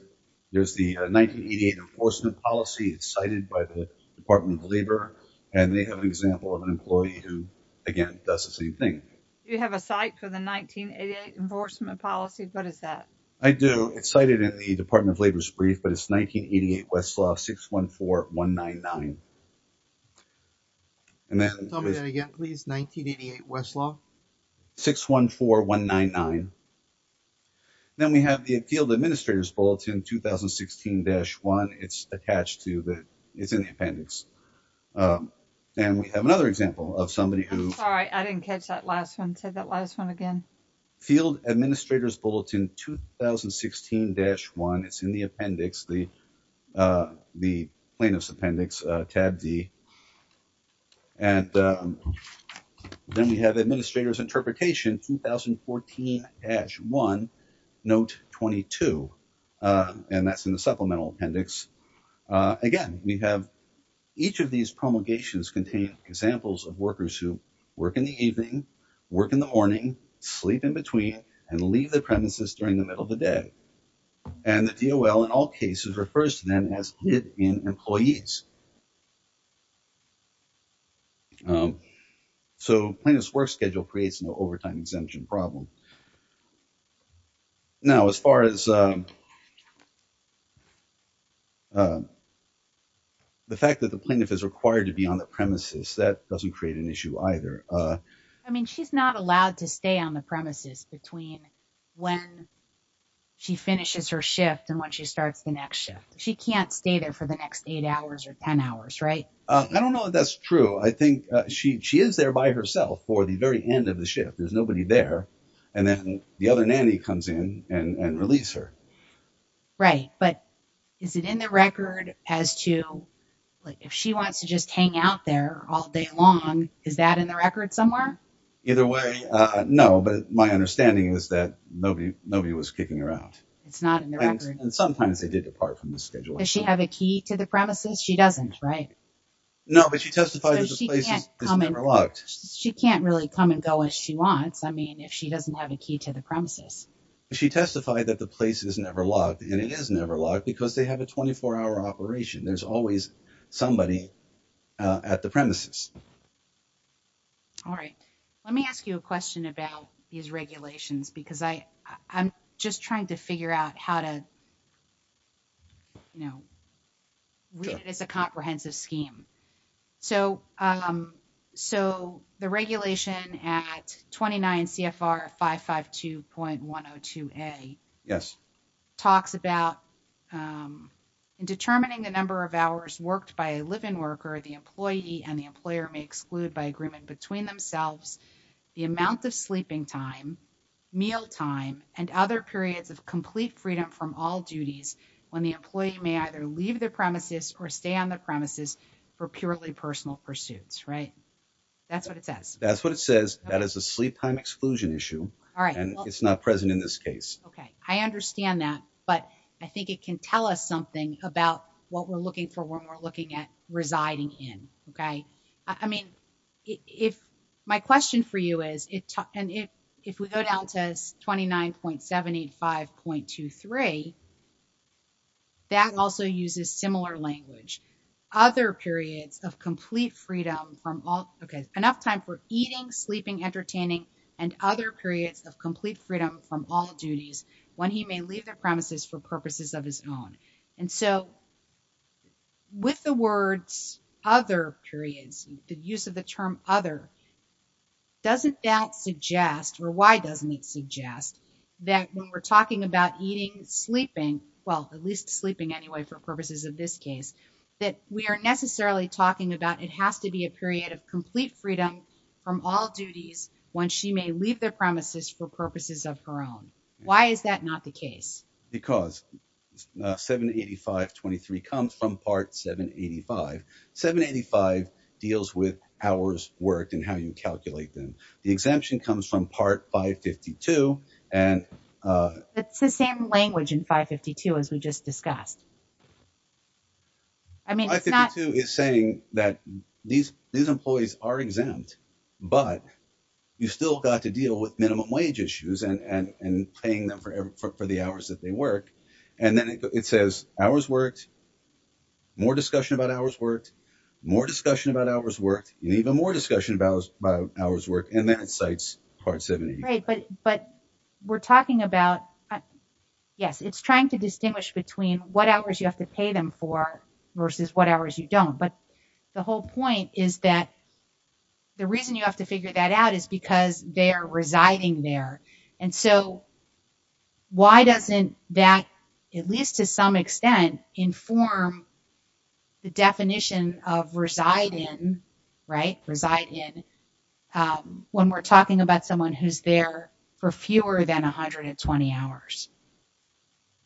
the 1988 enforcement policy. It's cited by the Department of Labor and they have an example of an employee who, again, does the same thing. Do you have a site for the 1988 enforcement policy? What is that? I do. It's cited in the Department of Labor's brief, but it's 1988 Westlaw 614199. Can you tell me that again, please? 1988 Westlaw? 614199. Then we have the Field Administrator's Bulletin 2016-1. It's attached to the, it's in the appendix. And we have another example of somebody who- Say that last one again. Field Administrator's Bulletin 2016-1. It's in the appendix, the plaintiff's appendix, tab D. And then we have Administrator's Interpretation 2014-1, note 22. And that's in the supplemental appendix. Again, we have each of these promulgations contain examples of workers who work in the morning, sleep in between, and leave the premises during the middle of the day. And the DOL, in all cases, refers to them as hit-in employees. So plaintiff's work schedule creates no overtime exemption problem. Now, as far as the fact that the plaintiff is required to be on the premises, that doesn't create an issue either. I mean, she's not allowed to stay on the premises between when she finishes her shift and when she starts the next shift. She can't stay there for the next eight hours or 10 hours, right? I don't know if that's true. I think she is there by herself for the very end of the shift. There's nobody there. And then the other nanny comes in and relieves her. Right. But is it in the record as to, like, if she wants to just hang out there all day long, is that in the record somewhere? Either way, no. But my understanding is that nobody was kicking her out. It's not in the record. And sometimes they did depart from the schedule. Does she have a key to the premises? She doesn't, right? No, but she testified that the place is never locked. She can't really come and go as she wants, I mean, if she doesn't have a key to the premises. She testified that the place is never locked. And it is never locked because they have a 24-hour operation. There's always somebody at the premises. All right. Let me ask you a question about these regulations, because I'm just trying to figure out how to, you know, read it as a comprehensive scheme. So the regulation at 29 CFR 552.102A talks about determining the number of hours worked by a live-in worker the employee and the employer may exclude by agreement between themselves, the amount of sleeping time, meal time, and other periods of complete freedom from all duties when the employee may either leave the premises or stay on the premises for purely personal pursuits, right? That's what it says. That's what it says. That is a sleep time exclusion issue. All right. And it's not present in this case. Okay. I understand that. But I think it can tell us something about what we're looking for when we're looking at residing in. Okay. I mean, if my question for you is, and if we go down to 29.75.23, that also uses similar language. Other periods of complete freedom from all, okay, enough time for eating, sleeping, entertaining, and other periods of complete freedom from all duties when he may leave the premises for purposes of his own. And so with the words other periods, the use of the term other doesn't suggest, or why doesn't it suggest that when we're talking about eating, sleeping, well, at least sleeping anyway for purposes of this case, that we are necessarily talking about it has to be a period of complete freedom from all duties when she may leave the premises for purposes of her own. Why is that not the case? Because 7.85.23 comes from part 7.85. 7.85 deals with hours worked and how you calculate them. The exemption comes from part 5.52 and- It's the same language in 5.52 as we just discussed. I mean, it's not- 5.52 is saying that these employees are exempt, but you still got to deal with minimum wage issues and paying them for the hours that they work. And then it says hours worked, more discussion about hours worked, more discussion about hours worked, even more discussion about hours worked. And then it cites part 7.85. But we're talking about, yes, it's trying to distinguish between what hours you have to pay them for versus what hours you don't. But the whole point is that the reason you have to figure that out is because they're residing there. And so why doesn't that, at least to some extent, inform the definition of reside in, right, reside in when we're talking about someone who's there for fewer than 120 hours?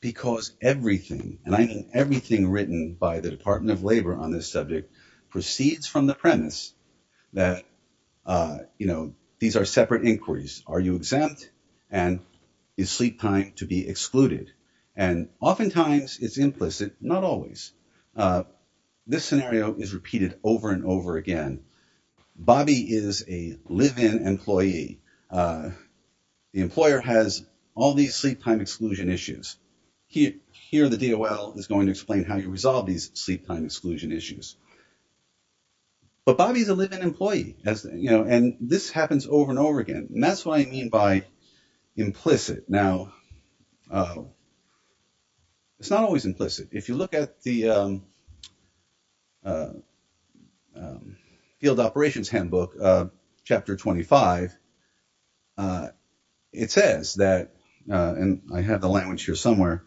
Because everything, and I mean everything written by the Department of Labor on this subject, proceeds from the premise that, you know, these are separate inquiries. Are you exempt? And is sleep time to be excluded? And oftentimes it's implicit, not always. This scenario is repeated over and over again. Bobby is a live-in employee. The employer has all these sleep time exclusion issues. Here, the DOL is going to explain how you resolve these sleep time exclusion issues. But Bobby's a live-in employee, you know, and this happens over and over again. And that's what I mean by implicit. Now, it's not always implicit. If you look at the field operations handbook, chapter 25, it says that, and I have the language here somewhere,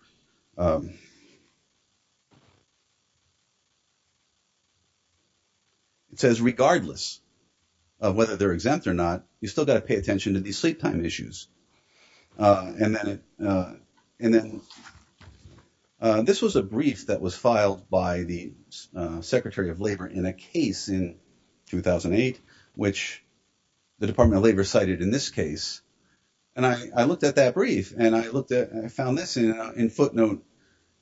it says regardless of whether they're exempt or not, you still got to pay attention to these sleep time issues. And then this was a brief that was filed by the Secretary of Labor in a case in 2008, which the Department of Labor cited in this case. And I looked at that brief and I found this in footnote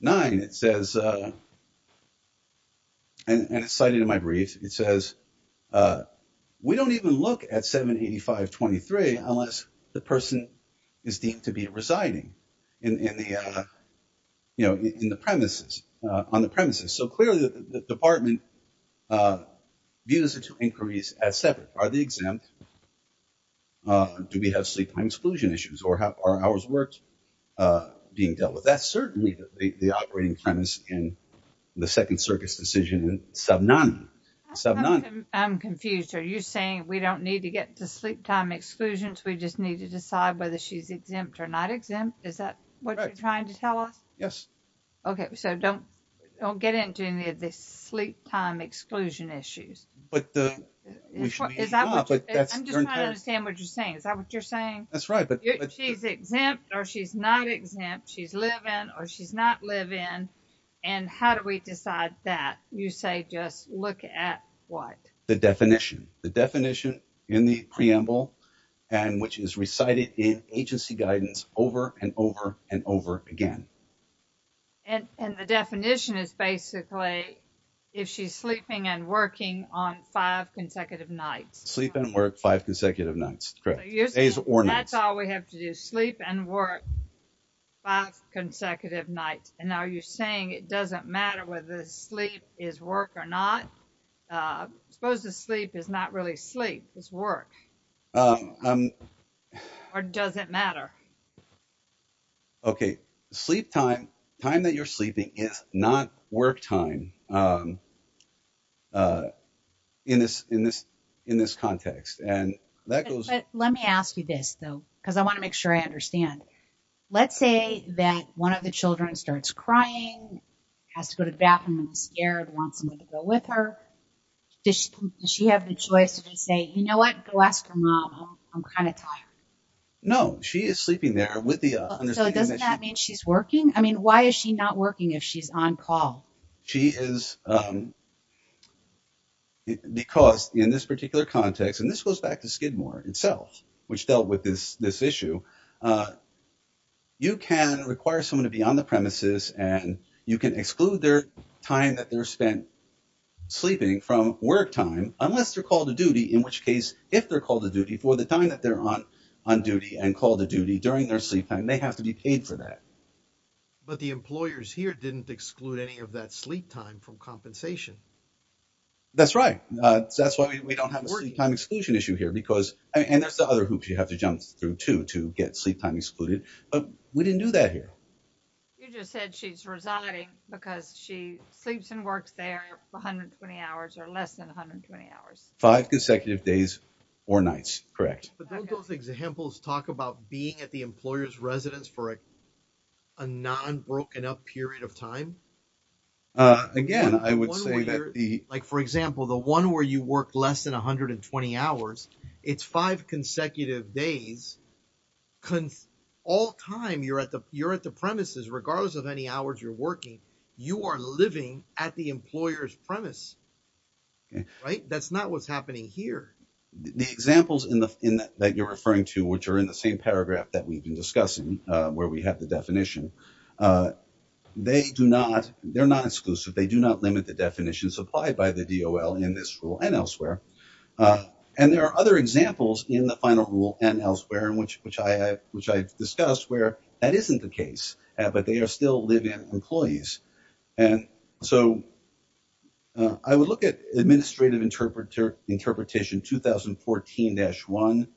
nine. It says, and it's cited in my brief, it says, we don't even look at 785.23 unless the person is deemed to be residing in the premises, on the premises. So, clearly, the department views the two inquiries as separate. Are they exempt? Do we have sleep time exclusion issues? Or are ours worth being dealt with? That's certainly the operating premise in the second circuit's decision in sub nine. I'm confused. Are you saying we don't need to get to sleep time exclusions? We just need to decide whether she's exempt or not exempt? Is that what you're trying to tell us? Yes. Okay, so don't, don't get into any of this sleep time exclusion issues. But the, we should, is that what you're saying? Is that what you're saying? That's right. But she's exempt or she's not exempt. She's living or she's not living. And how do we decide that? You say, just look at what? The definition, the definition in the preamble, and which is recited in agency guidance over and over and over again. And, and the definition is basically, if she's sleeping and working on five consecutive nights. Sleep and work five consecutive nights. That's all we have to do. Sleep and work five consecutive nights. And now you're saying it doesn't matter whether the sleep is work or not. Suppose the sleep is not really sleep, it's work. Or does it matter? Okay. Sleep time, time that you're sleeping is not work time. In this, in this, in this context. And that goes. But let me ask you this though, because I want to make sure I understand. Let's say that one of the children starts crying, has to go to the bathroom and is scared, wants somebody to go with her. Does she have the choice to just say, you know what? Go ask her mom, I'm kind of tired. No, she is sleeping there with the, So doesn't that mean she's working? I mean, why is she not working if she's on call? She is. Because in this particular context, and this goes back to Skidmore itself, which dealt with this, this issue. You can require someone to be on the premises and you can exclude their time that they're spent sleeping from work time, unless they're called to duty. In which case, if they're called to duty for the time that they're on, on duty and called to duty during their sleep time, they have to be paid for that. But the employers here didn't exclude any of that sleep time from compensation. That's right. That's why we don't have a sleep time exclusion issue here because, and there's the other hoops you have to jump through too, to get sleep time excluded. But we didn't do that here. You just said she's residing because she sleeps and works there 120 hours or less than 120 hours. Five consecutive days or nights. Correct. But don't those examples talk about being at the employer's residence for a non-broken up period of time? Again, I would say that the... Like, for example, the one where you work less than 120 hours, it's five consecutive days. All time you're at the premises, regardless of any hours you're working, you are living at the employer's premise. Okay. Right? That's not what's happening here. The examples that you're referring to, which are in the same paragraph that we've been discussing, where we have the definition, they're not exclusive. They do not limit the definitions applied by the DOL in this rule and elsewhere. And there are other examples in the final rule and elsewhere, which I've discussed, where that isn't the case, but they are still living employees. And so I would look at administrative interpretation 2014-1,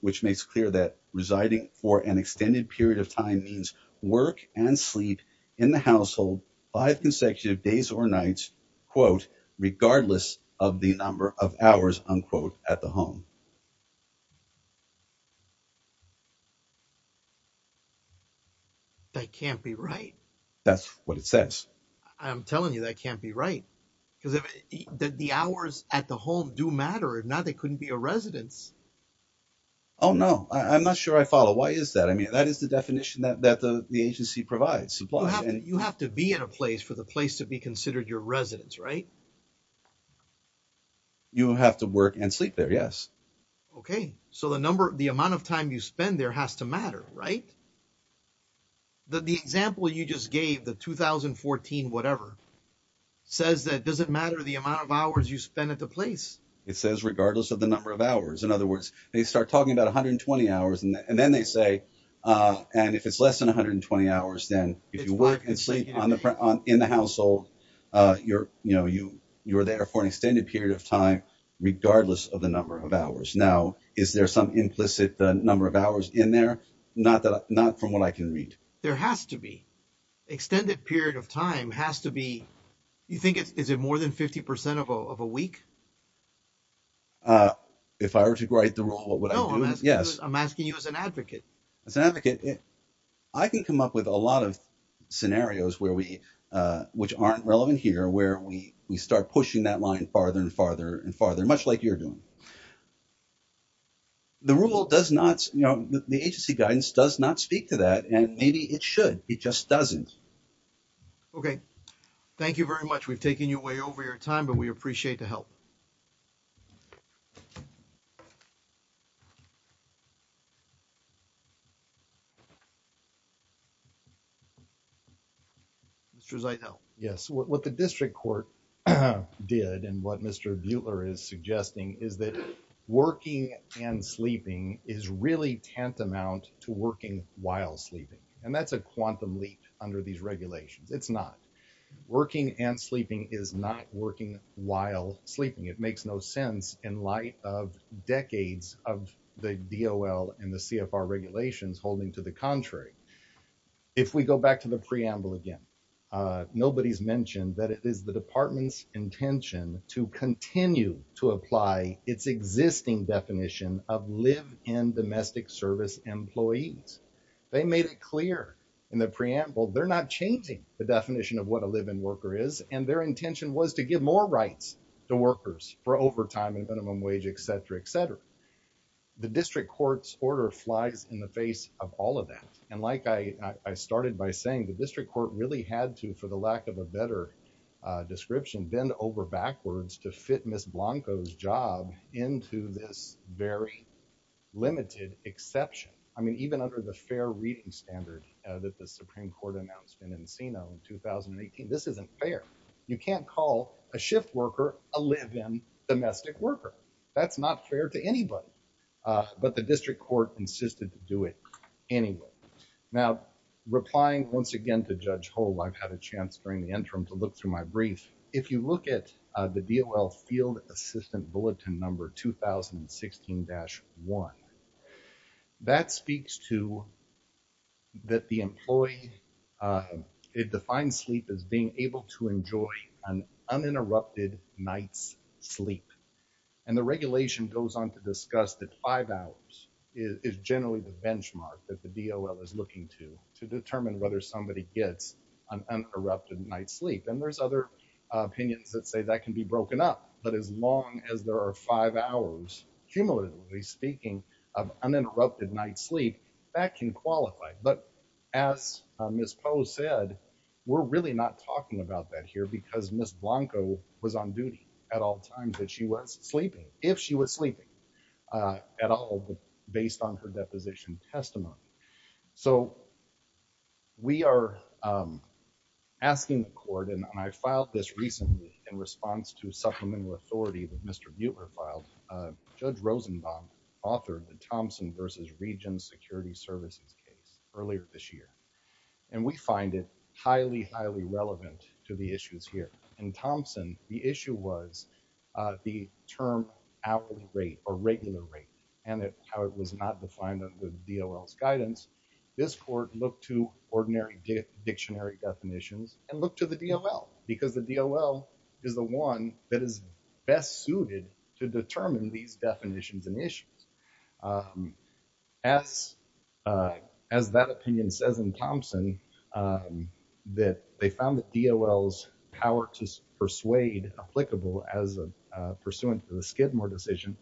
which makes clear that residing for an extended period of time means work and sleep in the household five consecutive days or nights, quote, regardless of the number of hours, unquote, at the home. That can't be right. That's what it says. I'm telling you, that can't be right. Because the hours at the home do matter. If not, they couldn't be a residence. Oh, no, I'm not sure I follow. Why is that? I mean, that is the definition that the agency provides. You have to be at a place for the place to be considered your residence, right? You have to work and sleep there, yes. Okay. So the number, the amount of time you spend there has to matter, right? But the example you just gave, the 2014 whatever, says that it doesn't matter the amount of hours you spend at the place. It says regardless of the number of hours. In other words, they start talking about 120 hours and then they say, and if it's less than 120 hours, then if you work and sleep in the household, you're there for an extended period of time regardless of the number of hours. Now, is there some implicit number of hours in there? Not from what I can read. There has to be. Extended period of time has to be, you think, is it more than 50% of a week? If I were to write the rule, what would I do? Yes. I'm asking you as an advocate. As an advocate, I can come up with a lot of scenarios which aren't relevant here, where we start pushing that line farther and farther and farther, much like you're doing. The rule does not, the agency guidance does not speak to that and maybe it should. It just doesn't. Okay. Thank you very much. We've taken you way over your time, but we appreciate the help. Mr. Zaito. Yes. What the district court did and what Mr. Buehler is suggesting is that working and sleeping is really tantamount to working while sleeping, and that's a quantum leap under these regulations. It's not. Working and sleeping is not working while sleeping. It makes no sense in light of decades of the DOL and the CFR regulations holding to the contrary. If we go back to the preamble again, nobody's mentioned that it is the department's intention to continue to apply its existing definition of live-in domestic service employees. They made it clear in the preamble they're not changing the definition of what a live-in worker is, and their intention was to give more rights to workers for overtime and minimum wage, et cetera, et cetera. The district court's order flies in the face of all of that. And like I started by saying, the district court really had to, for the lack of a better description, bend over backwards to fit Ms. Blanco's job into this very limited exception. I mean, even under the fair reading standard that the Supreme Court announced in Encino in 2018, this isn't fair. You can't call a shift worker a live-in domestic worker. That's not fair to anybody. But the district court insisted to do it anyway. Now, replying once again to Judge Hull, I've had a chance during the interim to look through my brief. If you look at the DOL field assistant bulletin number 2016-1, that speaks to that the employee defines sleep as being able to enjoy an uninterrupted night's sleep. And the regulation goes on to discuss that five hours is generally the benchmark that the DOL is looking to to determine whether somebody gets an uninterrupted night's sleep. And there's other opinions that say that can be broken up. But as long as there are five hours, cumulatively speaking, of uninterrupted night's sleep, that can qualify. But as Ms. Poe said, we're really not talking about that here because Ms. Blanco was on if she was sleeping at all based on her deposition testimony. So we are asking the court, and I filed this recently in response to supplemental authority that Mr. Buechler filed. Judge Rosenbaum authored the Thompson v. Regents Security Services case earlier this year. And we find it highly, highly relevant to the issues here. In Thompson, the issue was the term hourly rate or regular rate and how it was not defined under the DOL's guidance. This court looked to ordinary dictionary definitions and looked to the DOL because the DOL is the one that is best suited to determine these definitions and issues. As that opinion says in Thompson, that they found the DOL's power to persuade applicable as pursuant to the Skidmore decision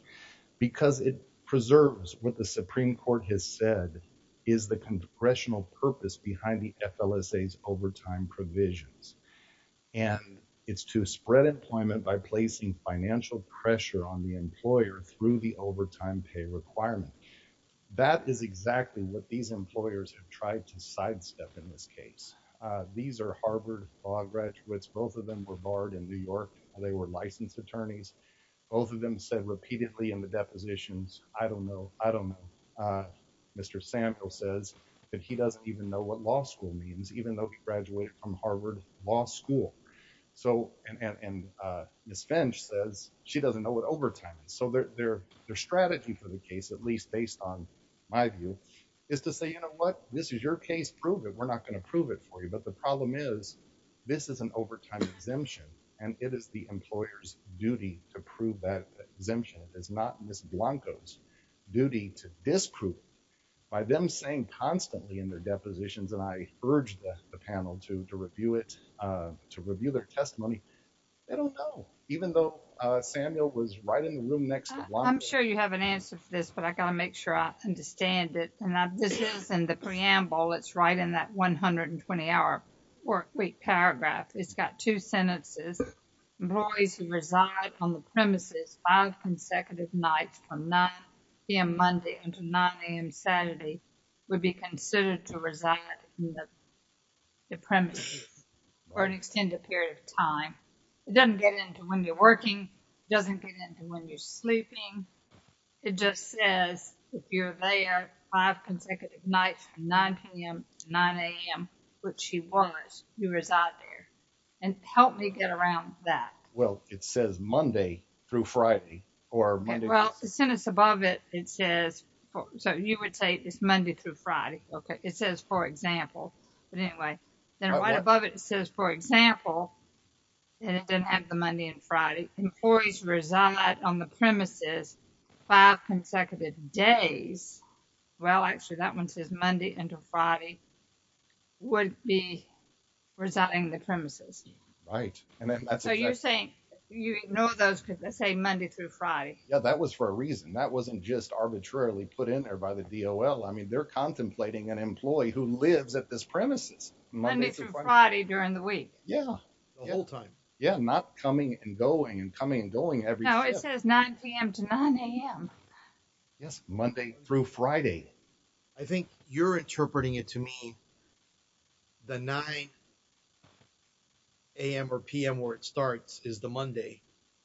because it preserves what the Supreme Court has said is the congressional purpose behind the FLSA's overtime provisions. And it's to spread employment by placing financial pressure on the employer through the overtime pay requirement. That is exactly what these employers have tried to sidestep in this case. These are Harvard Law graduates. Both of them were barred in New York. They were licensed attorneys. Both of them said repeatedly in the depositions, I don't know. I don't know. Mr. Sample says that he doesn't even know what law school means, even though he graduated from Harvard Law School. So, and Ms. Finch says she doesn't know what overtime is. So, their strategy for the case, at least based on my view, is to say, you know what? This is your case. Prove it. We're not going to prove it for you. But the problem is, this is an overtime exemption, and it is the employer's duty to prove that exemption. It is not Ms. Blanco's duty to disprove it. By them saying constantly in their depositions, and I urge the panel to review it, to review their testimony, they don't know. Even though Samuel was right in the room next to Blanco. I'm sure you have an answer for this, but I got to make sure I understand it. And this is in the preamble. It's right in that 120-hour workweek paragraph. It's got two sentences. Employees who reside on the premises five consecutive nights from 9 p.m. Monday until 9 a.m. It doesn't get into when you're working. It doesn't get into when you're sleeping. It just says, if you're there five consecutive nights from 9 p.m. to 9 a.m., which he was, you reside there. And help me get around that. Well, it says Monday through Friday, or Monday. Well, the sentence above it, it says, so you would say it's Monday through Friday. Okay. It says, for example. But anyway, then right above it, it says, for example. And it doesn't have the Monday and Friday. Employees reside on the premises five consecutive days. Well, actually, that one says Monday until Friday would be residing in the premises. Right. And that's what you're saying. You ignore those because they say Monday through Friday. Yeah, that was for a reason. That wasn't just arbitrarily put in there by the DOL. I mean, they're contemplating an employee who lives at this premises. Monday through Friday during the week. Yeah, the whole time. Yeah, not coming and going and coming and going every day. No, it says 9 p.m. to 9 a.m. Yes, Monday through Friday. I think you're interpreting it to me. The 9 a.m. or p.m. where it starts is the Monday.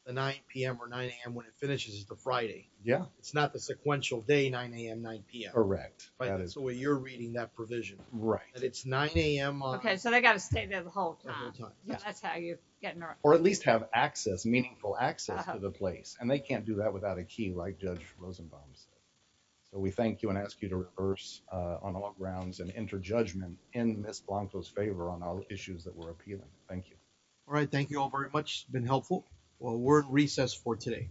The 9 p.m. or 9 a.m. when it finishes is the Friday. Yeah. It's not the sequential day, 9 a.m., 9 p.m. So you're reading that provision. Right. And it's 9 a.m. Okay. So they got to stay there the whole time. That's how you're getting there. Or at least have access, meaningful access to the place. And they can't do that without a key like Judge Rosenbaum's. So we thank you and ask you to rehearse on all grounds and enter judgment in Ms. Blanco's favor on all issues that were appealing. Thank you. All right. Thank you all very much. Been helpful. Well, we're at recess for today.